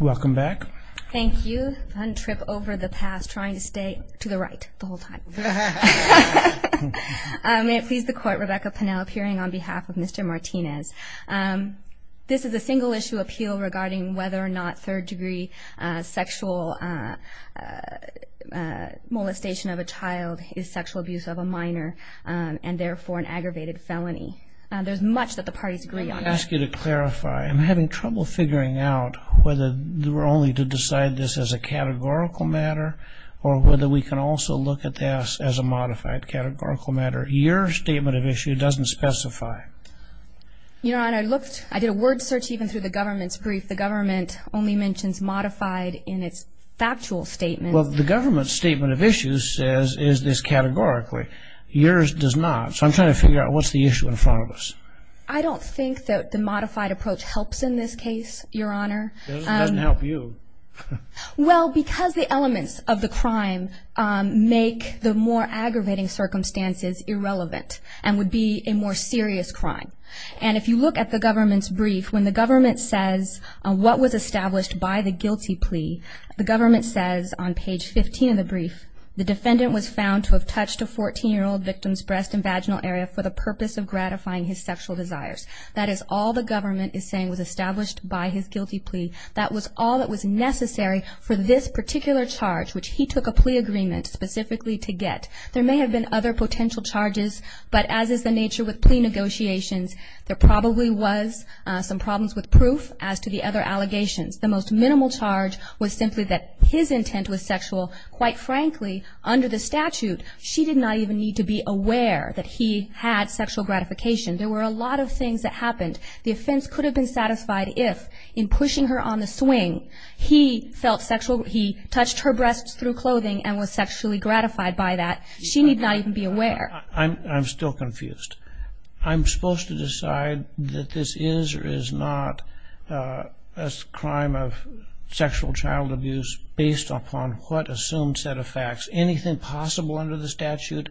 Welcome back. Thank you. Fun trip over the past, trying to stay to the right the whole time. May it please the court, Rebecca Pennell appearing on behalf of Mr. Martinez. This is a single issue appeal regarding whether or not third degree sexual molestation of a child is sexual abuse of a minor and therefore an aggravated felony. There's much that the parties agree on. I ask you to clarify, I'm having trouble figuring out whether we're only to decide this as a categorical matter or whether we can also look at this as a modified categorical matter. Your statement of issue doesn't specify. Your Honor, I looked, I did a word search even through the government's brief. The government only mentions modified in its factual statement. Well, the government's statement of issue says is this categorically. Yours does not. So I'm trying to figure out what's the issue in front of us. I don't think that the modified approach helps in this case, Your Honor. It doesn't help you. Well, because the elements of the crime make the more aggravating circumstances irrelevant and would be a more serious crime. And if you look at the government's brief, when the government says what was established by the guilty plea, the government says on page 15 of the brief, the defendant was found to have touched a 14-year-old victim's breast and vaginal area for the purpose of gratifying his sexual desires. That is all the government is saying was established by his guilty plea. That was all that was necessary for this particular charge, which he took a plea agreement specifically to get. There may have been other potential charges, but as is the nature with plea negotiations, there probably was some problems with proof as to the other allegations. The most minimal charge was simply that his intent was sexual. Quite frankly, under the statute, she did not even need to be aware that he had sexual gratification. There were a lot of things that happened. The offense could have been satisfied if, in pushing her on the swing, he felt sexual, he touched her breasts through clothing and was sexually gratified by that. She need not even be aware. I'm still confused. I'm supposed to decide that this is or is not a crime of sexual child abuse based upon what assumed set of facts. Anything possible under the statute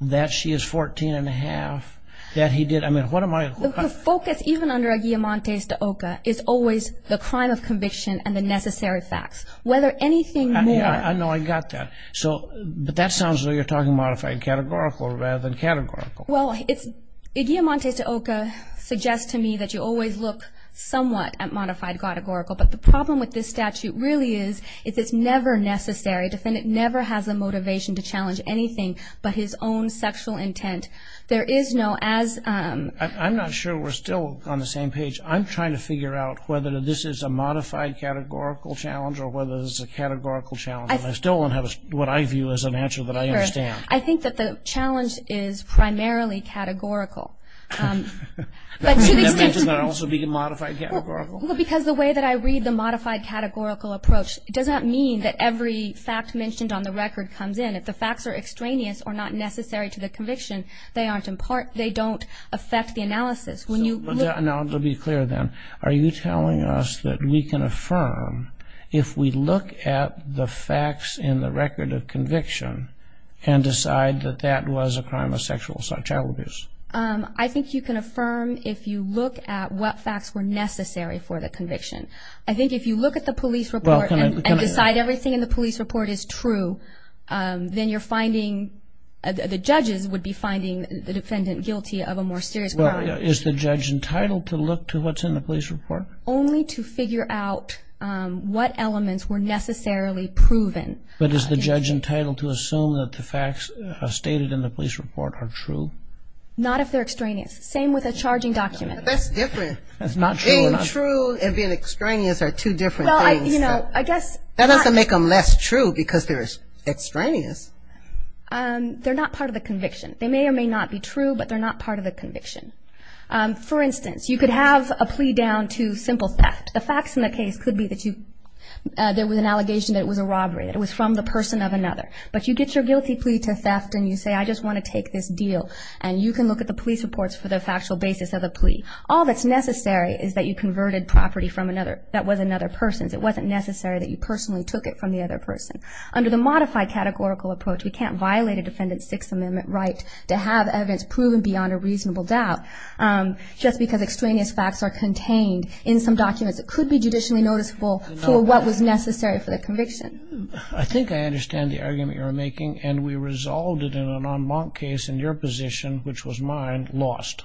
that she is 14-and-a-half, that he did. I mean, what am I? The focus, even under a guillemante stauca, is always the crime of conviction and the necessary facts. Whether anything more. I know. I got that. But that sounds like you're talking about if I categorical rather than categorical. Well, a guillemante stauca suggests to me that you always look somewhat at modified categorical. But the problem with this statute really is it's never necessary. The defendant never has the motivation to challenge anything but his own sexual intent. There is no as... I'm not sure we're still on the same page. I'm trying to figure out whether this is a modified categorical challenge or whether this is a categorical challenge. I still don't have what I view as an answer that I understand. I think that the challenge is primarily categorical. Does that also mean a modified categorical? Because the way that I read the modified categorical approach, it does not mean that every fact mentioned on the record comes in. If the facts are extraneous or not necessary to the conviction, they don't affect the analysis. Now, to be clear then, are you telling us that we can affirm if we look at the facts in the record of conviction and decide that that was a crime of sexual assault or child abuse? I think you can affirm if you look at what facts were necessary for the conviction. I think if you look at the police report and decide everything in the police report is true, then the judges would be finding the defendant guilty of a more serious crime. Is the judge entitled to look to what's in the police report? Only to figure out what elements were necessarily proven. But is the judge entitled to assume that the facts stated in the police report are true? Not if they're extraneous. Same with a charging document. That's different. That's not true. Being true and being extraneous are two different things. That doesn't make them less true because they're extraneous. They're not part of the conviction. They may or may not be true, but they're not part of the conviction. For instance, you could have a plea down to simple theft. The facts in the case could be that there was an allegation that it was a robbery, that it was from the person of another. But you get your guilty plea to theft and you say, I just want to take this deal, and you can look at the police reports for the factual basis of the plea. All that's necessary is that you converted property that was another person's. It wasn't necessary that you personally took it from the other person. Under the modified categorical approach, we can't violate a defendant's Sixth Amendment right to have evidence proven beyond a reasonable doubt. Just because extraneous facts are contained in some documents, it could be judicially noticeable for what was necessary for the conviction. I think I understand the argument you're making, and we resolved it in an en banc case in your position, which was mine, lost.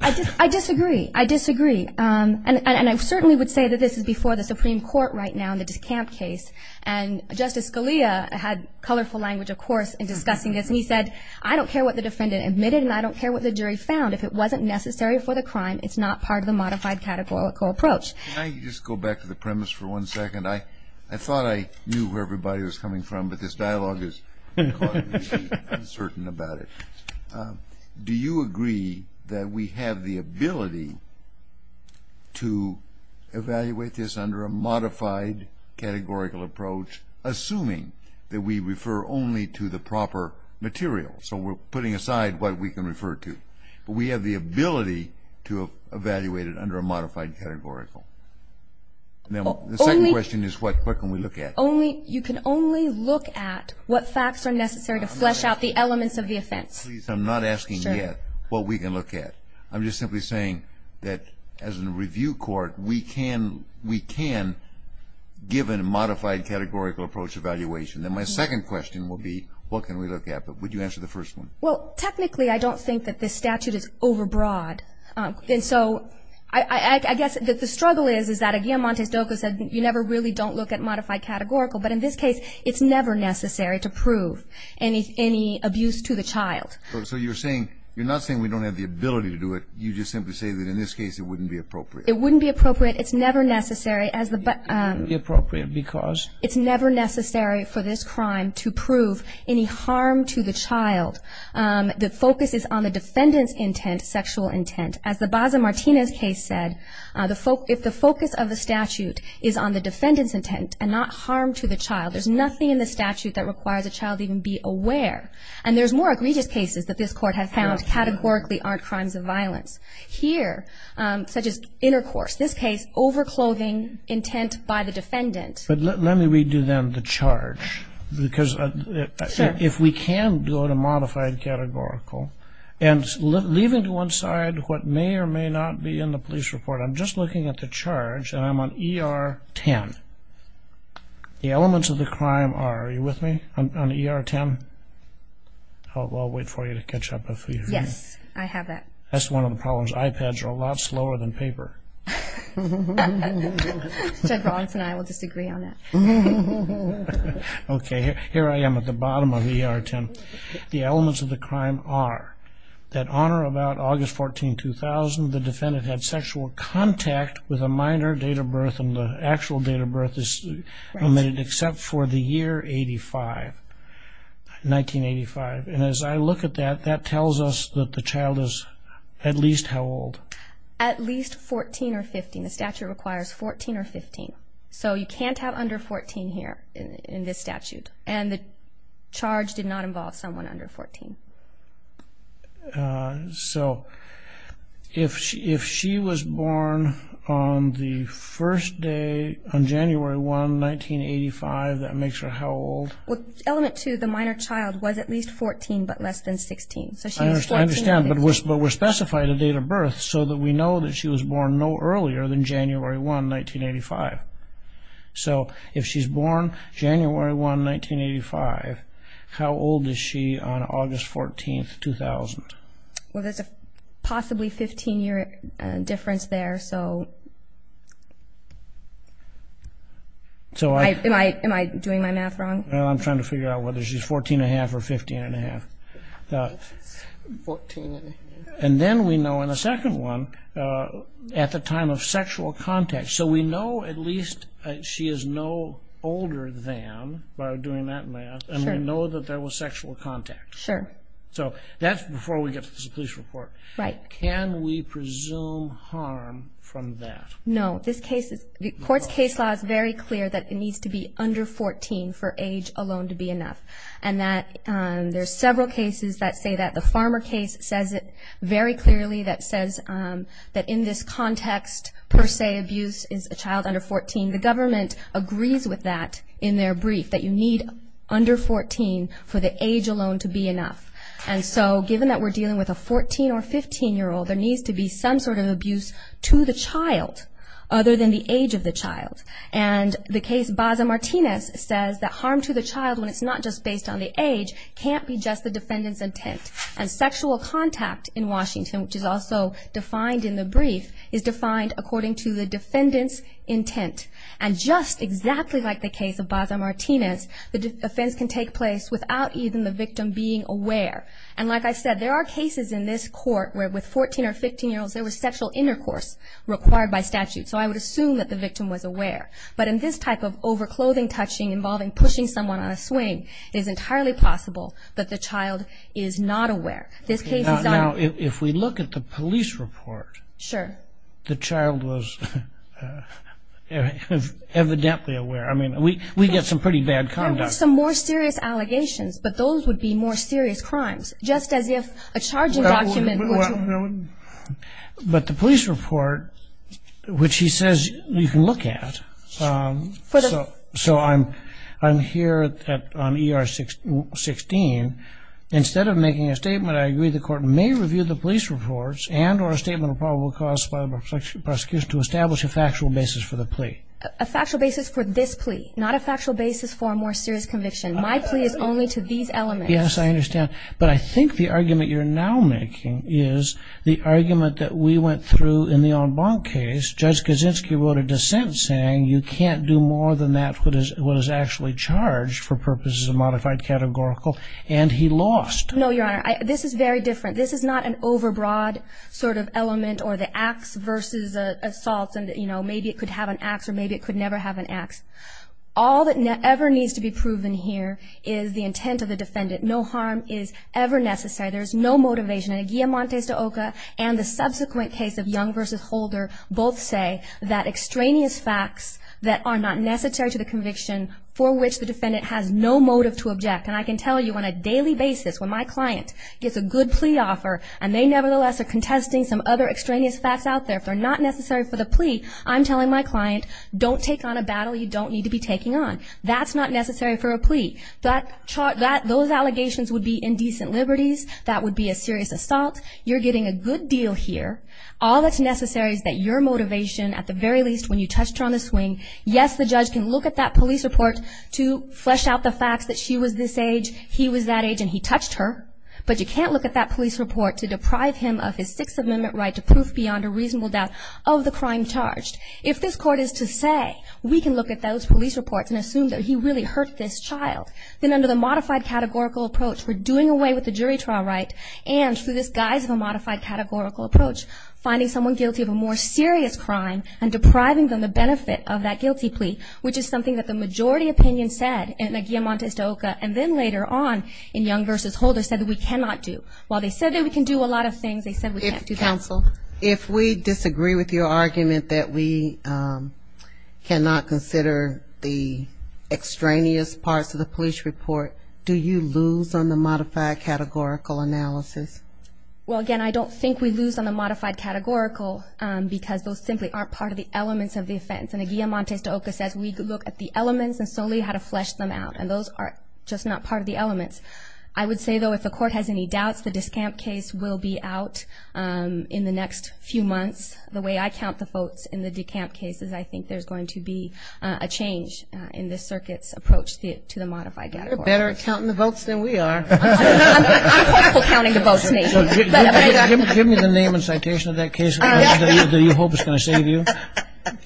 I disagree. I disagree. And I certainly would say that this is before the Supreme Court right now in the DeKalb case. And Justice Scalia had colorful language, of course, in discussing this. And he said, I don't care what the defendant admitted, and I don't care what the jury found. If it wasn't necessary for the crime, it's not part of the modified categorical approach. Can I just go back to the premise for one second? I thought I knew where everybody was coming from, but this dialogue has caught me uncertain about it. Do you agree that we have the ability to evaluate this under a modified categorical approach, assuming that we refer only to the proper material? So we're putting aside what we can refer to. But we have the ability to evaluate it under a modified categorical. The second question is what can we look at? You can only look at what facts are necessary to flesh out the elements of the offense. Please, I'm not asking yet what we can look at. I'm just simply saying that as a review court, we can give a modified categorical approach evaluation. Then my second question will be what can we look at. But would you answer the first one? Well, technically, I don't think that this statute is overbroad. And so I guess the struggle is, is that again, Montes Doco said, you never really don't look at modified categorical. But in this case, it's never necessary to prove any abuse to the child. So you're saying, you're not saying we don't have the ability to do it. You just simply say that in this case, it wouldn't be appropriate. It wouldn't be appropriate. It's never necessary as the... It wouldn't be appropriate because... It's never necessary for this crime to prove any harm to the child. The focus is on the defendant's intent, sexual intent. As the Baza-Martinez case said, if the focus of the statute is on the defendant's intent to harm the child, there's nothing in the statute that requires a child to even be aware. And there's more egregious cases that this court has found categorically aren't crimes of violence. Here, such as intercourse. This case, overclothing intent by the defendant. But let me redo then the charge because if we can go to modified categorical and leaving to one side what may or may not be in the police report, I'm just looking at the charge and I'm on ER 10. The elements of the crime are... Are you with me on ER 10? I'll wait for you to catch up. Yes, I have that. That's one of the problems. iPads are a lot slower than paper. Judge Rawlings and I will disagree on that. Okay, here I am at the bottom of ER 10. The elements of the crime are that on or about August 14, 2000, the defendant had sexual contact with a minor date of birth and the actual date of birth is limited except for the year 1985. And as I look at that, that tells us that the child is at least how old? At least 14 or 15. The statute requires 14 or 15. So you can't have under 14 here in this statute. And the charge did not involve someone under 14. So if she was born on the first day, on January 1, 1985, that makes her how old? Element 2, the minor child was at least 14 but less than 16. I understand, but we're specifying the date of birth so that we know that she was born no earlier than January 1, 1985. So if she's born January 1, 1985, how old is she on August 14, 2000? Well, there's a possibly 15-year difference there. Am I doing my math wrong? I'm trying to figure out whether she's 14 1⁄2 or 15 1⁄2. And then we know in the second one, at the time of sexual contact. So we know at least she is no older than, by doing that math, and we know that there was sexual contact. Sure. So that's before we get to the police report. Right. Can we presume harm from that? No. The court's case law is very clear that it needs to be under 14 for age alone to be enough. And there's several cases that say that. The Farmer case says it very clearly. That says that in this context, per se, abuse is a child under 14. The government agrees with that in their brief, that you need under 14 for the age alone to be enough. And so given that we're dealing with a 14- or 15-year-old, there needs to be some sort of abuse to the child, other than the age of the child. And the case Baza-Martinez says that harm to the child, when it's not just based on the age, can't be just the defendant's intent. And sexual contact in Washington, which is also defined in the brief, is defined according to the defendant's intent. And just exactly like the case of Baza-Martinez, the offense can take place without even the victim being aware. And like I said, there are cases in this court where with 14- or 15-year-olds, there was sexual intercourse required by statute. So I would assume that the victim was aware. But in this type of overclothing, touching, involving pushing someone on a swing, it is entirely possible that the child is not aware. Now, if we look at the police report, the child was evidently aware. I mean, we get some pretty bad conduct. There were some more serious allegations, but those would be more serious crimes, just as if a charging document were true. But the police report, which he says you can look at, so I'm here on ER 16. Instead of making a statement, I agree the court may review the police reports and or a statement of probable cause by the prosecution to establish a factual basis for the plea. A factual basis for this plea, not a factual basis for a more serious conviction. My plea is only to these elements. Yes, I understand. But I think the argument you're now making is the argument that we went through in the en banc case. Judge Kaczynski wrote a dissent saying you can't do more than that for what is actually charged for purposes of modified categorical, and he lost. No, Your Honor. This is very different. This is not an overbroad sort of element or the ax versus the assault and maybe it could have an ax or maybe it could never have an ax. All that ever needs to be proven here is the intent of the defendant. No harm is ever necessary. There is no motivation. In the guillamontes to Oka and the subsequent case of Young versus Holder, both say that extraneous facts that are not necessary to the conviction for which the defendant has no motive to object. And I can tell you on a daily basis when my client gets a good plea offer and they nevertheless are contesting some other extraneous facts out there, if they're not necessary for the plea, I'm telling my client don't take on a battle you don't need to be taking on. That's not necessary for a plea. Those allegations would be indecent liberties. That would be a serious assault. You're getting a good deal here. All that's necessary is that your motivation at the very least when you touched her on the swing, yes, the judge can look at that police report to flesh out the facts that she was this age, he was that age, and he touched her, but you can't look at that police report to deprive him of his Sixth Amendment right to prove beyond a reasonable doubt of the crime charged. If this court is to say we can look at those police reports and assume that he really hurt this child, then under the modified categorical approach we're doing away with the jury trial right and through this guise of a modified categorical approach, finding someone guilty of a more serious crime and depriving them the benefit of that guilty plea, which is something that the majority opinion said in the guillemot de estoca and then later on in Young v. Holder said that we cannot do. While they said that we can do a lot of things, they said we can't do that. If, counsel, if we disagree with your argument that we cannot consider the extraneous parts of the police report, do you lose on the modified categorical analysis? Well, again, I don't think we lose on the modified categorical because those simply aren't part of the elements of the offense, and the guillemot de estoca says we look at the elements and solely how to flesh them out, and those are just not part of the elements. I would say, though, if the court has any doubts, the discamp case will be out in the next few months. The way I count the votes in the decamp cases, I think there's going to be a change in this circuit's approach to the modified categorical. You're better at counting the votes than we are. I'm horrible at counting the votes, Nathan. Give me the name and citation of that case that you hope is going to save you.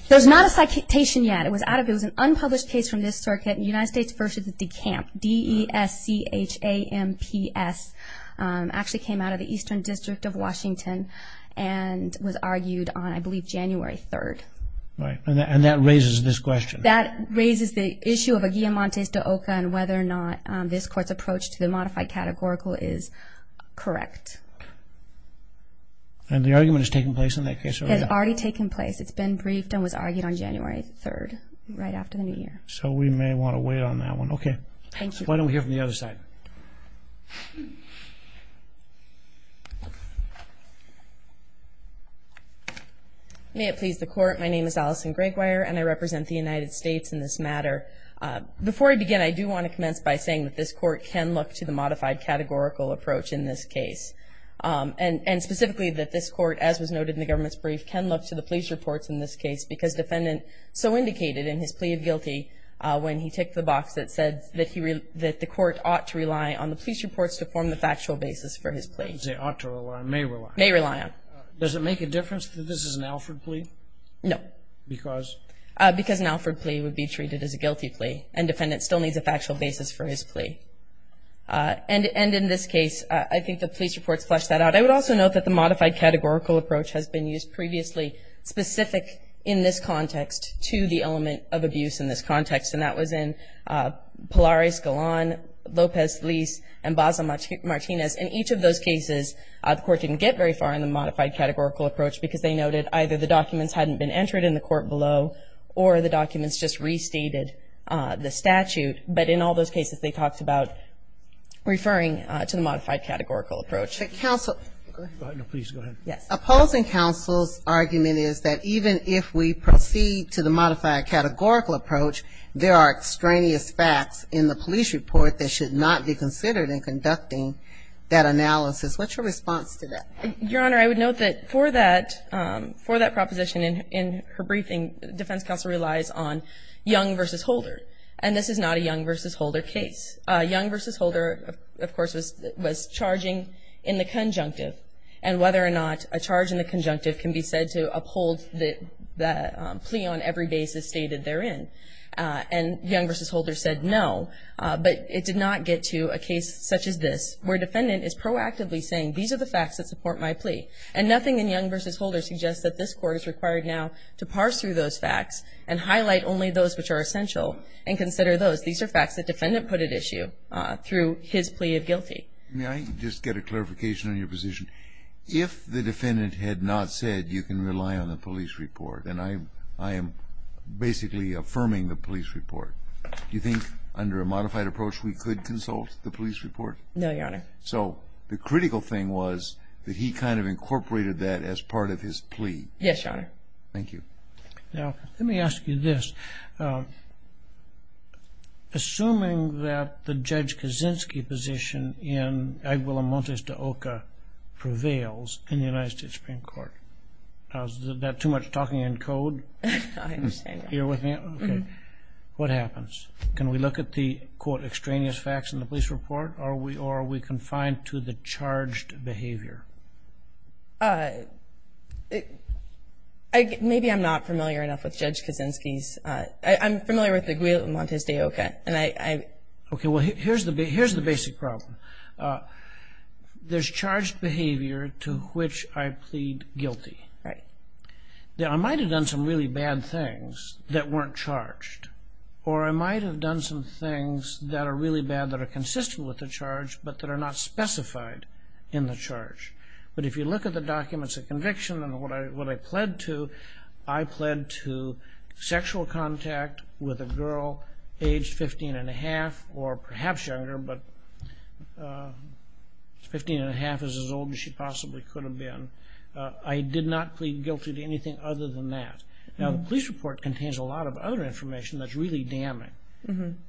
There's not a citation yet. It was an unpublished case from this circuit, United States v. Decamp, D-E-S-C-H-A-M-P-S. It actually came out of the Eastern District of Washington and was argued on, I believe, January 3rd. Right, and that raises this question. That raises the issue of a guillamante de OCA and whether or not this court's approach to the modified categorical is correct. And the argument has taken place in that case already? It has already taken place. It's been briefed and was argued on January 3rd, right after the new year. So we may want to wait on that one. Okay. Thank you. Why don't we hear from the other side? May it please the Court. My name is Allison Gregwire, and I represent the United States in this matter. Before I begin, I do want to commence by saying that this court can look to the modified categorical approach in this case, and specifically that this court, as was noted in the government's brief, can look to the police reports in this case because defendant so indicated in his plea of guilty when he ticked the box that said that the court ought to rely on the police reports to form the factual basis for his plea. Didn't say ought to rely, may rely. May rely on. Does it make a difference that this is an Alfred plea? No. Because? Because an Alfred plea would be treated as a guilty plea, and defendant still needs a factual basis for his plea. And in this case, I think the police reports flesh that out. I would also note that the modified categorical approach has been used previously specific in this context to the element of abuse in this context, and that was in Pilares, Galan, Lopez, Lise, and Baza Martinez. In each of those cases, the court didn't get very far in the modified categorical approach because they noted either the documents hadn't been entered in the court below or the documents just restated the statute. But in all those cases, they talked about referring to the modified categorical approach. But counsel, opposing counsel's argument is that even if we proceed to the modified categorical approach, there are extraneous facts in the police report that should not be considered in conducting that analysis. What's your response to that? Your Honor, I would note that for that, for that proposition in her briefing, defense counsel relies on Young v. Holder. And this is not a Young v. Holder case. Young v. Holder, of course, was charging in the conjunctive, and whether or not a charge in the conjunctive can be said to uphold the plea on every basis stated therein. And Young v. Holder said no, but it did not get to a case such as this where defendant is proactively saying these are the facts that support my plea. And nothing in Young v. Holder suggests that this Court is required now to parse through those facts and highlight only those which are essential and consider those. These are facts that defendant put at issue through his plea of guilty. May I just get a clarification on your position? If the defendant had not said you can rely on the police report, and I am basically affirming the police report, do you think under a modified approach we could consult the police report? No, Your Honor. So the critical thing was that he kind of incorporated that as part of his plea. Yes, Your Honor. Thank you. Now, let me ask you this. Assuming that the Judge Kaczynski position in Aguila Montes de Oca prevails in the United States Supreme Court, is that too much talking in code? I understand. You're with me? Okay. What happens? Can we look at the, quote, extraneous facts in the police report? Or are we confined to the charged behavior? Maybe I'm not familiar enough with Judge Kaczynski's. I'm familiar with the Aguila Montes de Oca. Okay, well, here's the basic problem. There's charged behavior to which I plead guilty. Right. Now, I might have done some really bad things that weren't charged, or I might have done some things that are really bad that are consistent with the charge, but that are not specified in the charge. But if you look at the documents of conviction and what I pled to, I pled to sexual contact with a girl aged 15 1⁄2 or perhaps younger, but 15 1⁄2 is as old as she possibly could have been. I did not plead guilty to anything other than that. Now, the police report contains a lot of other information that's really damning.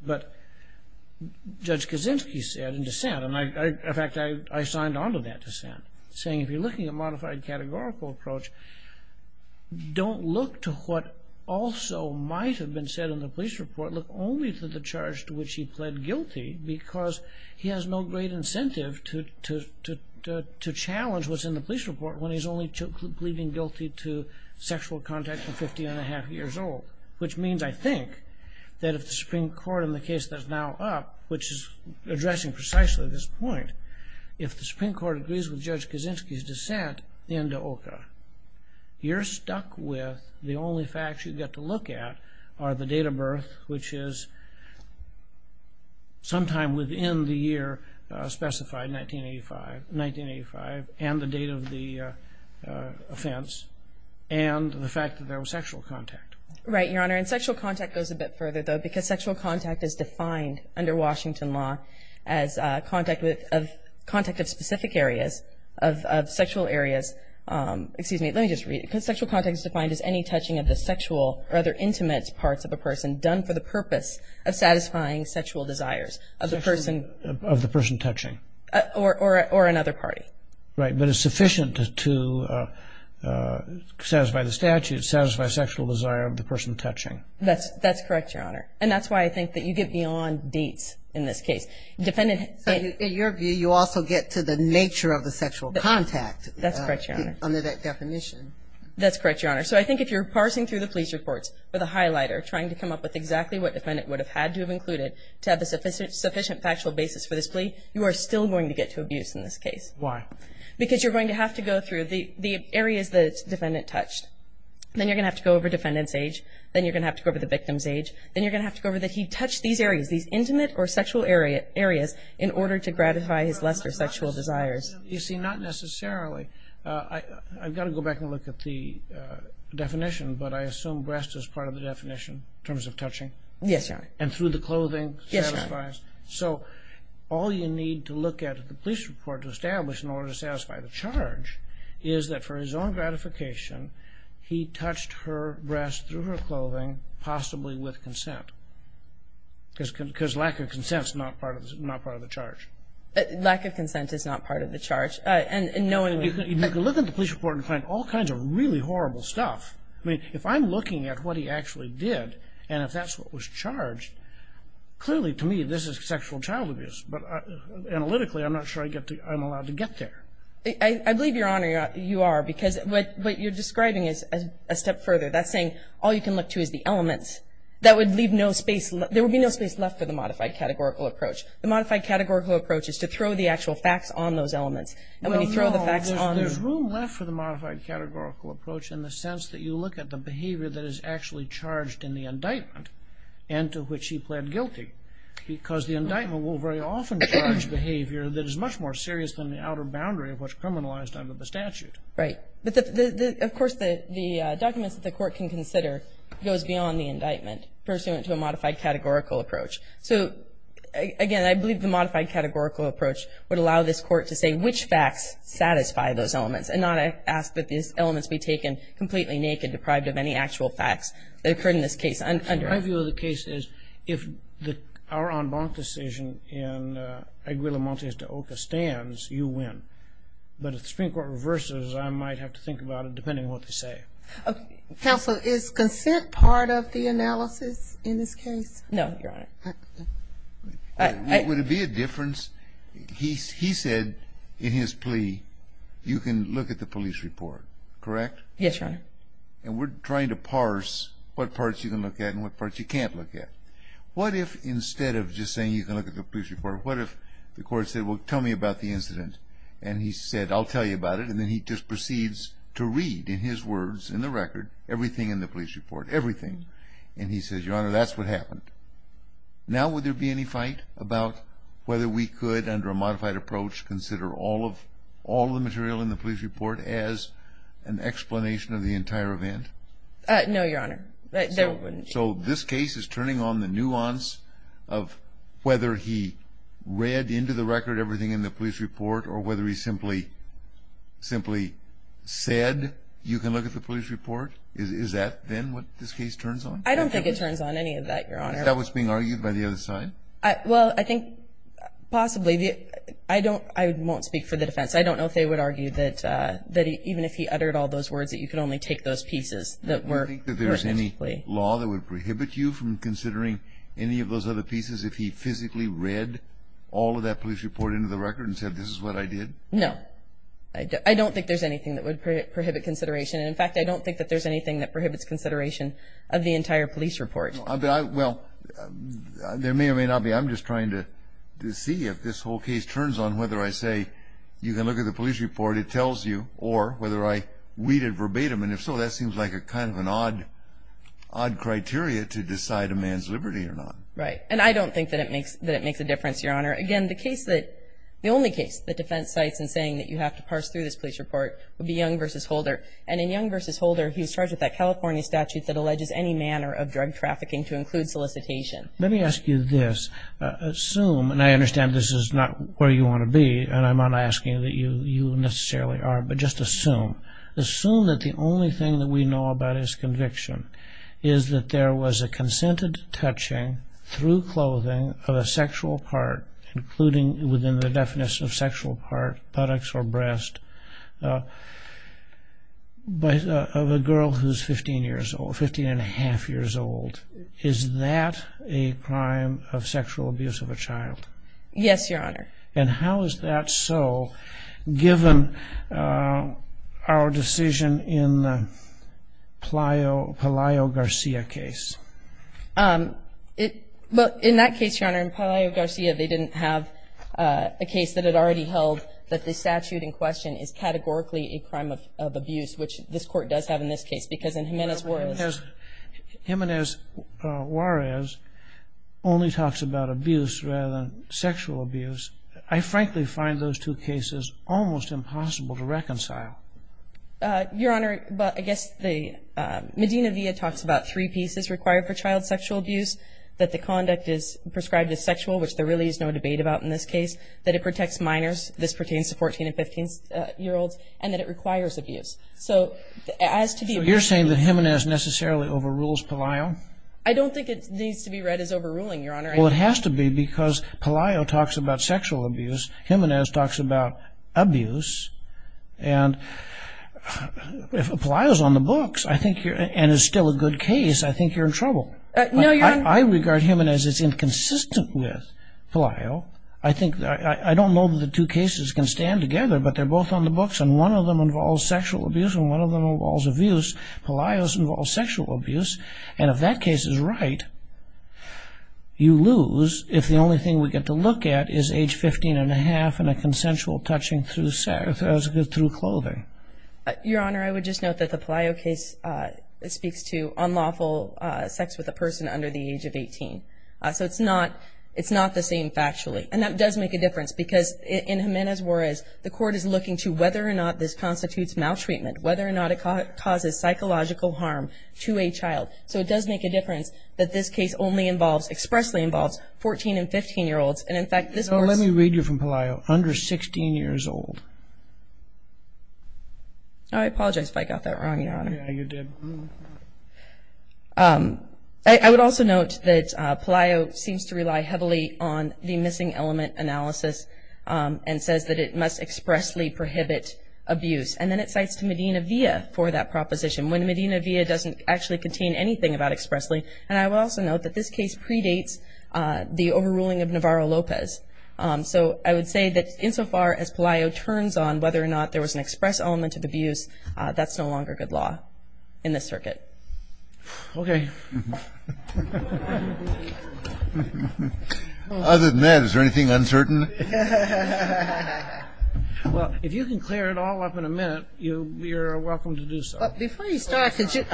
But Judge Kaczynski said in dissent, and, in fact, I signed on to that dissent, saying if you're looking at modified categorical approach, don't look to what also might have been said in the police report. Look only to the charge to which he pled guilty because he has no great incentive to challenge what's in the police report when he's only pleading guilty to sexual contact from 15 1⁄2 years old, which means, I think, that if the Supreme Court in the case that's now up, which is addressing precisely this point, if the Supreme Court agrees with Judge Kaczynski's dissent in Dohca, you're stuck with the only facts you get to look at are the date of birth, which is sometime within the year specified, 1985, and the date of the offense, and the fact that there was sexual contact. Right, Your Honor. And sexual contact goes a bit further, though, because sexual contact is defined under Washington law as contact of specific areas of sexual areas. Excuse me. Let me just read it. Because sexual contact is defined as any touching of the sexual or other intimate parts of a person done for the purpose of satisfying sexual desires of the person. Of the person touching. Or another party. Right, but it's sufficient to satisfy the statute, satisfy sexual desire of the person touching. That's correct, Your Honor. And that's why I think that you get beyond dates in this case. In your view, you also get to the nature of the sexual contact. That's correct, Your Honor. Under that definition. That's correct, Your Honor. So I think if you're parsing through the police reports with a highlighter, trying to come up with exactly what defendant would have had to have included to have a sufficient factual basis for this plea, you are still going to get to abuse in this case. Why? Because you're going to have to go through the areas the defendant touched. Then you're going to have to go over defendant's age. Then you're going to have to go over the victim's age. Then you're going to have to go over that he touched these areas, these intimate or sexual areas in order to gratify his lust or sexual desires. You see, not necessarily. I've got to go back and look at the definition, but I assume breast is part of the definition in terms of touching. Yes, Your Honor. And through the clothing satisfies. Yes, Your Honor. So all you need to look at the police report to establish in order to satisfy the charge is that for his own gratification, he touched her breast through her clothing possibly with consent because lack of consent is not part of the charge. Lack of consent is not part of the charge. You can look at the police report and find all kinds of really horrible stuff. If I'm looking at what he actually did and if that's what was charged, clearly to me this is sexual child abuse, but analytically I'm not sure I'm allowed to get there. I believe, Your Honor, you are, because what you're describing is a step further. That's saying all you can look to is the elements. That would leave no space. There would be no space left for the modified categorical approach. The modified categorical approach is to throw the actual facts on those elements. Well, no, there's room left for the modified categorical approach in the sense that you look at the behavior that is actually charged in the indictment and to which he pled guilty, because the indictment will very often charge behavior that is much more serious than the outer boundary of what's criminalized under the statute. Right. But, of course, the documents that the court can consider goes beyond the indictment pursuant to a modified categorical approach. So, again, I believe the modified categorical approach would allow this court to say which facts satisfy those elements and not ask that these elements be taken completely naked, deprived of any actual facts that occurred in this case. And my view of the case is if our en banc decision in Aguila Montes de Oca stands, you win. But if the Supreme Court reverses, I might have to think about it depending on what they say. Counsel, is consent part of the analysis in this case? No, Your Honor. Would it be a difference? He said in his plea you can look at the police report, correct? Yes, Your Honor. Okay. And we're trying to parse what parts you can look at and what parts you can't look at. What if instead of just saying you can look at the police report, what if the court said, well, tell me about the incident? And he said, I'll tell you about it, and then he just proceeds to read in his words in the record everything in the police report, everything. And he says, Your Honor, that's what happened. Now would there be any fight about whether we could, under a modified approach, consider all of the material in the police report as an explanation of the entire event? No, Your Honor. So this case is turning on the nuance of whether he read into the record everything in the police report or whether he simply said you can look at the police report? Is that then what this case turns on? I don't think it turns on any of that, Your Honor. Is that what's being argued by the other side? Well, I think possibly. I won't speak for the defense. I don't know if they would argue that even if he uttered all those words, that you could only take those pieces. Do you think that there's any law that would prohibit you from considering any of those other pieces if he physically read all of that police report into the record and said this is what I did? No. I don't think there's anything that would prohibit consideration. And, in fact, I don't think that there's anything that prohibits consideration of the entire police report. Well, there may or may not be. I'm just trying to see if this whole case turns on whether I say you can look at the police report, it tells you, or whether I read it verbatim. And if so, that seems like kind of an odd criteria to decide a man's liberty or not. Right. And I don't think that it makes a difference, Your Honor. Again, the only case that defense cites in saying that you have to parse through this police report would be Young v. Holder. And in Young v. Holder, he was charged with that California statute that alleges any manner of drug trafficking to include solicitation. Let me ask you this. Assume, and I understand this is not where you want to be, and I'm not asking that you necessarily are, but just assume, assume that the only thing that we know about his conviction is that there was a consented touching through clothing of a sexual part, including within the definition of sexual part, buttocks or breast, of a girl who's 15 years old, 15 1⁄2 years old. Is that a crime of sexual abuse of a child? Yes, Your Honor. And how is that so, given our decision in the Palaio Garcia case? Well, in that case, Your Honor, in Palaio Garcia, they didn't have a case that had already held that the statute in question is categorically a crime of abuse, which this Court does have in this case, because in Jiménez-Fuentes... Jiménez-Juarez only talks about abuse rather than sexual abuse. I frankly find those two cases almost impossible to reconcile. Your Honor, I guess Medina-Villa talks about three pieces required for child sexual abuse, that the conduct is prescribed as sexual, which there really is no debate about in this case, that it protects minors, this pertains to 14 and 15-year-olds, and that it requires abuse. So you're saying that Jiménez necessarily overrules Palaio? I don't think it needs to be read as overruling, Your Honor. Well, it has to be, because Palaio talks about sexual abuse, Jiménez talks about abuse, and if Palaio's on the books and is still a good case, I think you're in trouble. I regard Jiménez as inconsistent with Palaio. I don't know that the two cases can stand together, but they're both on the books, and one of them involves sexual abuse, and one of them involves abuse. Palaio's involves sexual abuse, and if that case is right, you lose, if the only thing we get to look at is age 15-and-a-half and a consensual touching through clothing. Your Honor, I would just note that the Palaio case speaks to unlawful sex with a person under the age of 18. So it's not the same factually, and that does make a difference, because in Jiménez-Juarez, the court is looking to whether or not this constitutes maltreatment, whether or not it causes psychological harm to a child. So it does make a difference that this case only involves, expressly involves, 14-and-15-year-olds. And, in fact, this course... No, let me read you from Palaio. Under 16 years old. I apologize if I got that wrong, Your Honor. Yeah, you did. I would also note that Palaio seems to rely heavily on the missing element analysis and says that it must expressly prohibit abuse. And then it cites to Medina-Villa for that proposition, when Medina-Villa doesn't actually contain anything about expressly. And I will also note that this case predates the overruling of Navarro-Lopez. So I would say that, insofar as Palaio turns on whether or not there was an express element of abuse, that's no longer good law in this circuit. Okay. Other than that, is there anything uncertain? Well, if you can clear it all up in a minute, you're welcome to do so. Before you start, could you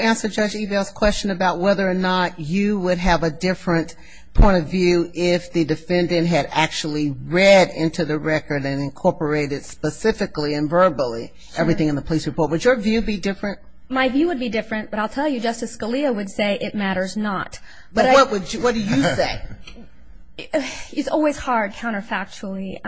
answer Judge Ebel's question about whether or not you would have a different point of view if the defendant had actually read into the record and incorporated specifically and verbally everything in the police report. Would your view be different? My view would be different, but I'll tell you Justice Scalia would say it matters not. But what do you say? It's always hard counterfactually.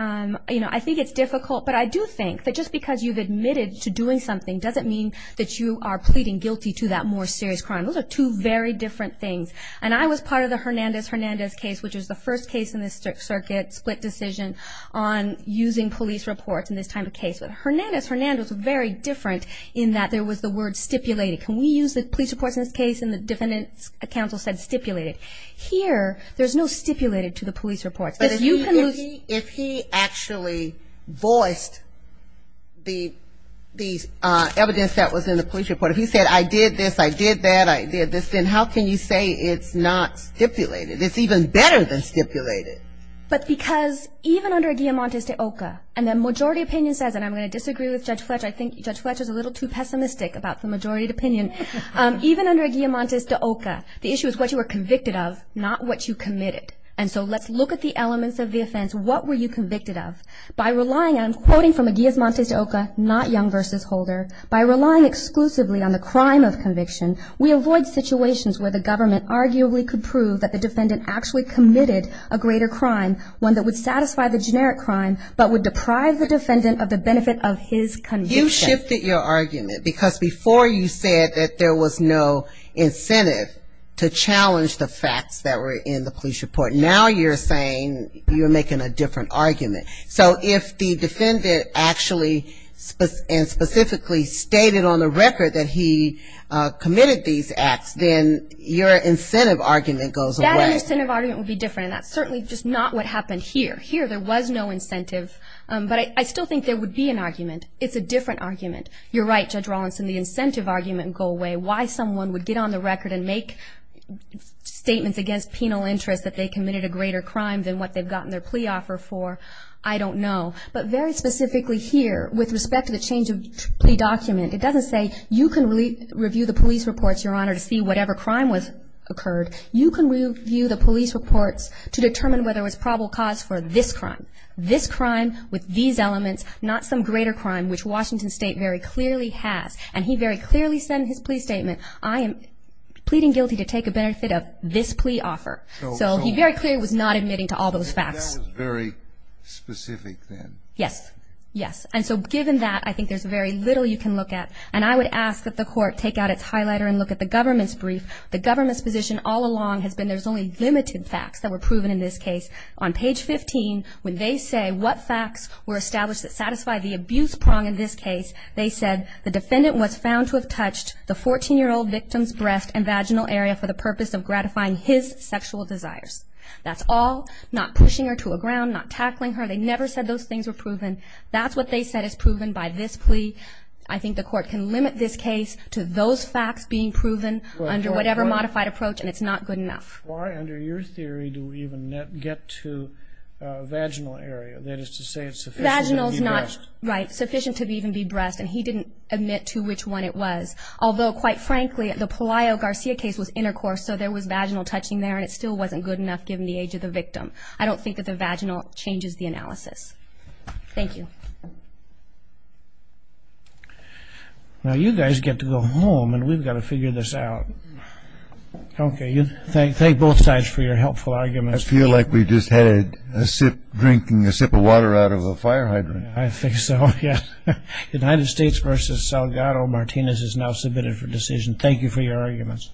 You know, I think it's difficult, but I do think that just because you've admitted to doing something doesn't mean that you are pleading guilty to that more serious crime. Those are two very different things. And I was part of the Hernandez-Hernandez case, which was the first case in this circuit, split decision on using police reports in this type of case. But Hernandez-Hernandez was very different in that there was the word stipulated. Can we use the police reports in this case? And the defendant's counsel said stipulated. Here, there's no stipulated to the police reports. But if you can lose. But if he actually voiced the evidence that was in the police report, if he said I did this, I did that, I did this, then how can you say it's not stipulated? It's even better than stipulated. But because even under a guillemotes de oca, and the majority opinion says, and I'm going to disagree with Judge Fletch, I think Judge Fletch is a little too pessimistic about the majority opinion. Even under a guillemotes de oca, the issue is what you were convicted of, not what you committed. And so let's look at the elements of the offense. What were you convicted of? By relying on, quoting from a guillemotes de oca, not Young v. Holder, by relying exclusively on the crime of conviction, we avoid situations where the government arguably could prove that the defendant actually committed a greater crime, one that would satisfy the generic crime, but would deprive the defendant of the benefit of his conviction. You shifted your argument because before you said that there was no incentive to challenge the facts that were in the police report. Now you're saying you're making a different argument. So if the defendant actually and specifically stated on the record that he committed these acts, then your incentive argument goes away. That incentive argument would be different, and that's certainly just not what happened here. Here there was no incentive, but I still think there would be an argument. It's a different argument. You're right, Judge Rawlinson, the incentive argument would go away. Why someone would get on the record and make statements against penal interest that they committed a greater crime than what they've gotten their plea offer for, I don't know. But very specifically here, with respect to the change of plea document, it doesn't say you can review the police reports, Your Honor, to see whatever crime occurred. You can review the police reports to determine whether there was probable cause for this crime, this crime with these elements, not some greater crime, which Washington State very clearly has. And he very clearly said in his plea statement, I am pleading guilty to take a benefit of this plea offer. So he very clearly was not admitting to all those facts. That was very specific then. Yes, yes. And so given that, I think there's very little you can look at. And I would ask that the Court take out its highlighter and look at the government's brief. The government's position all along has been there's only limited facts that were proven in this case. On page 15, when they say what facts were established that satisfy the abuse prong in this case, they said the defendant was found to have touched the 14-year-old victim's breast and vaginal area for the purpose of gratifying his sexual desires. That's all, not pushing her to a ground, not tackling her. They never said those things were proven. That's what they said is proven by this plea. I think the Court can limit this case to those facts being proven under whatever modified approach, and it's not good enough. Why, under your theory, do we even get to vaginal area? That is to say it's sufficient to be breast. Vaginal is not, right, sufficient to even be breast. And he didn't admit to which one it was. Although, quite frankly, the Pelayo-Garcia case was intercourse, so there was vaginal touching there, and it still wasn't good enough given the age of the victim. I don't think that the vaginal changes the analysis. Thank you. Now you guys get to go home, and we've got to figure this out. Okay, thank both sides for your helpful arguments. I feel like we just had a sip drinking a sip of water out of a fire hydrant. I think so, yes. United States v. Salgado, Martinez is now submitted for decision. Thank you for your arguments.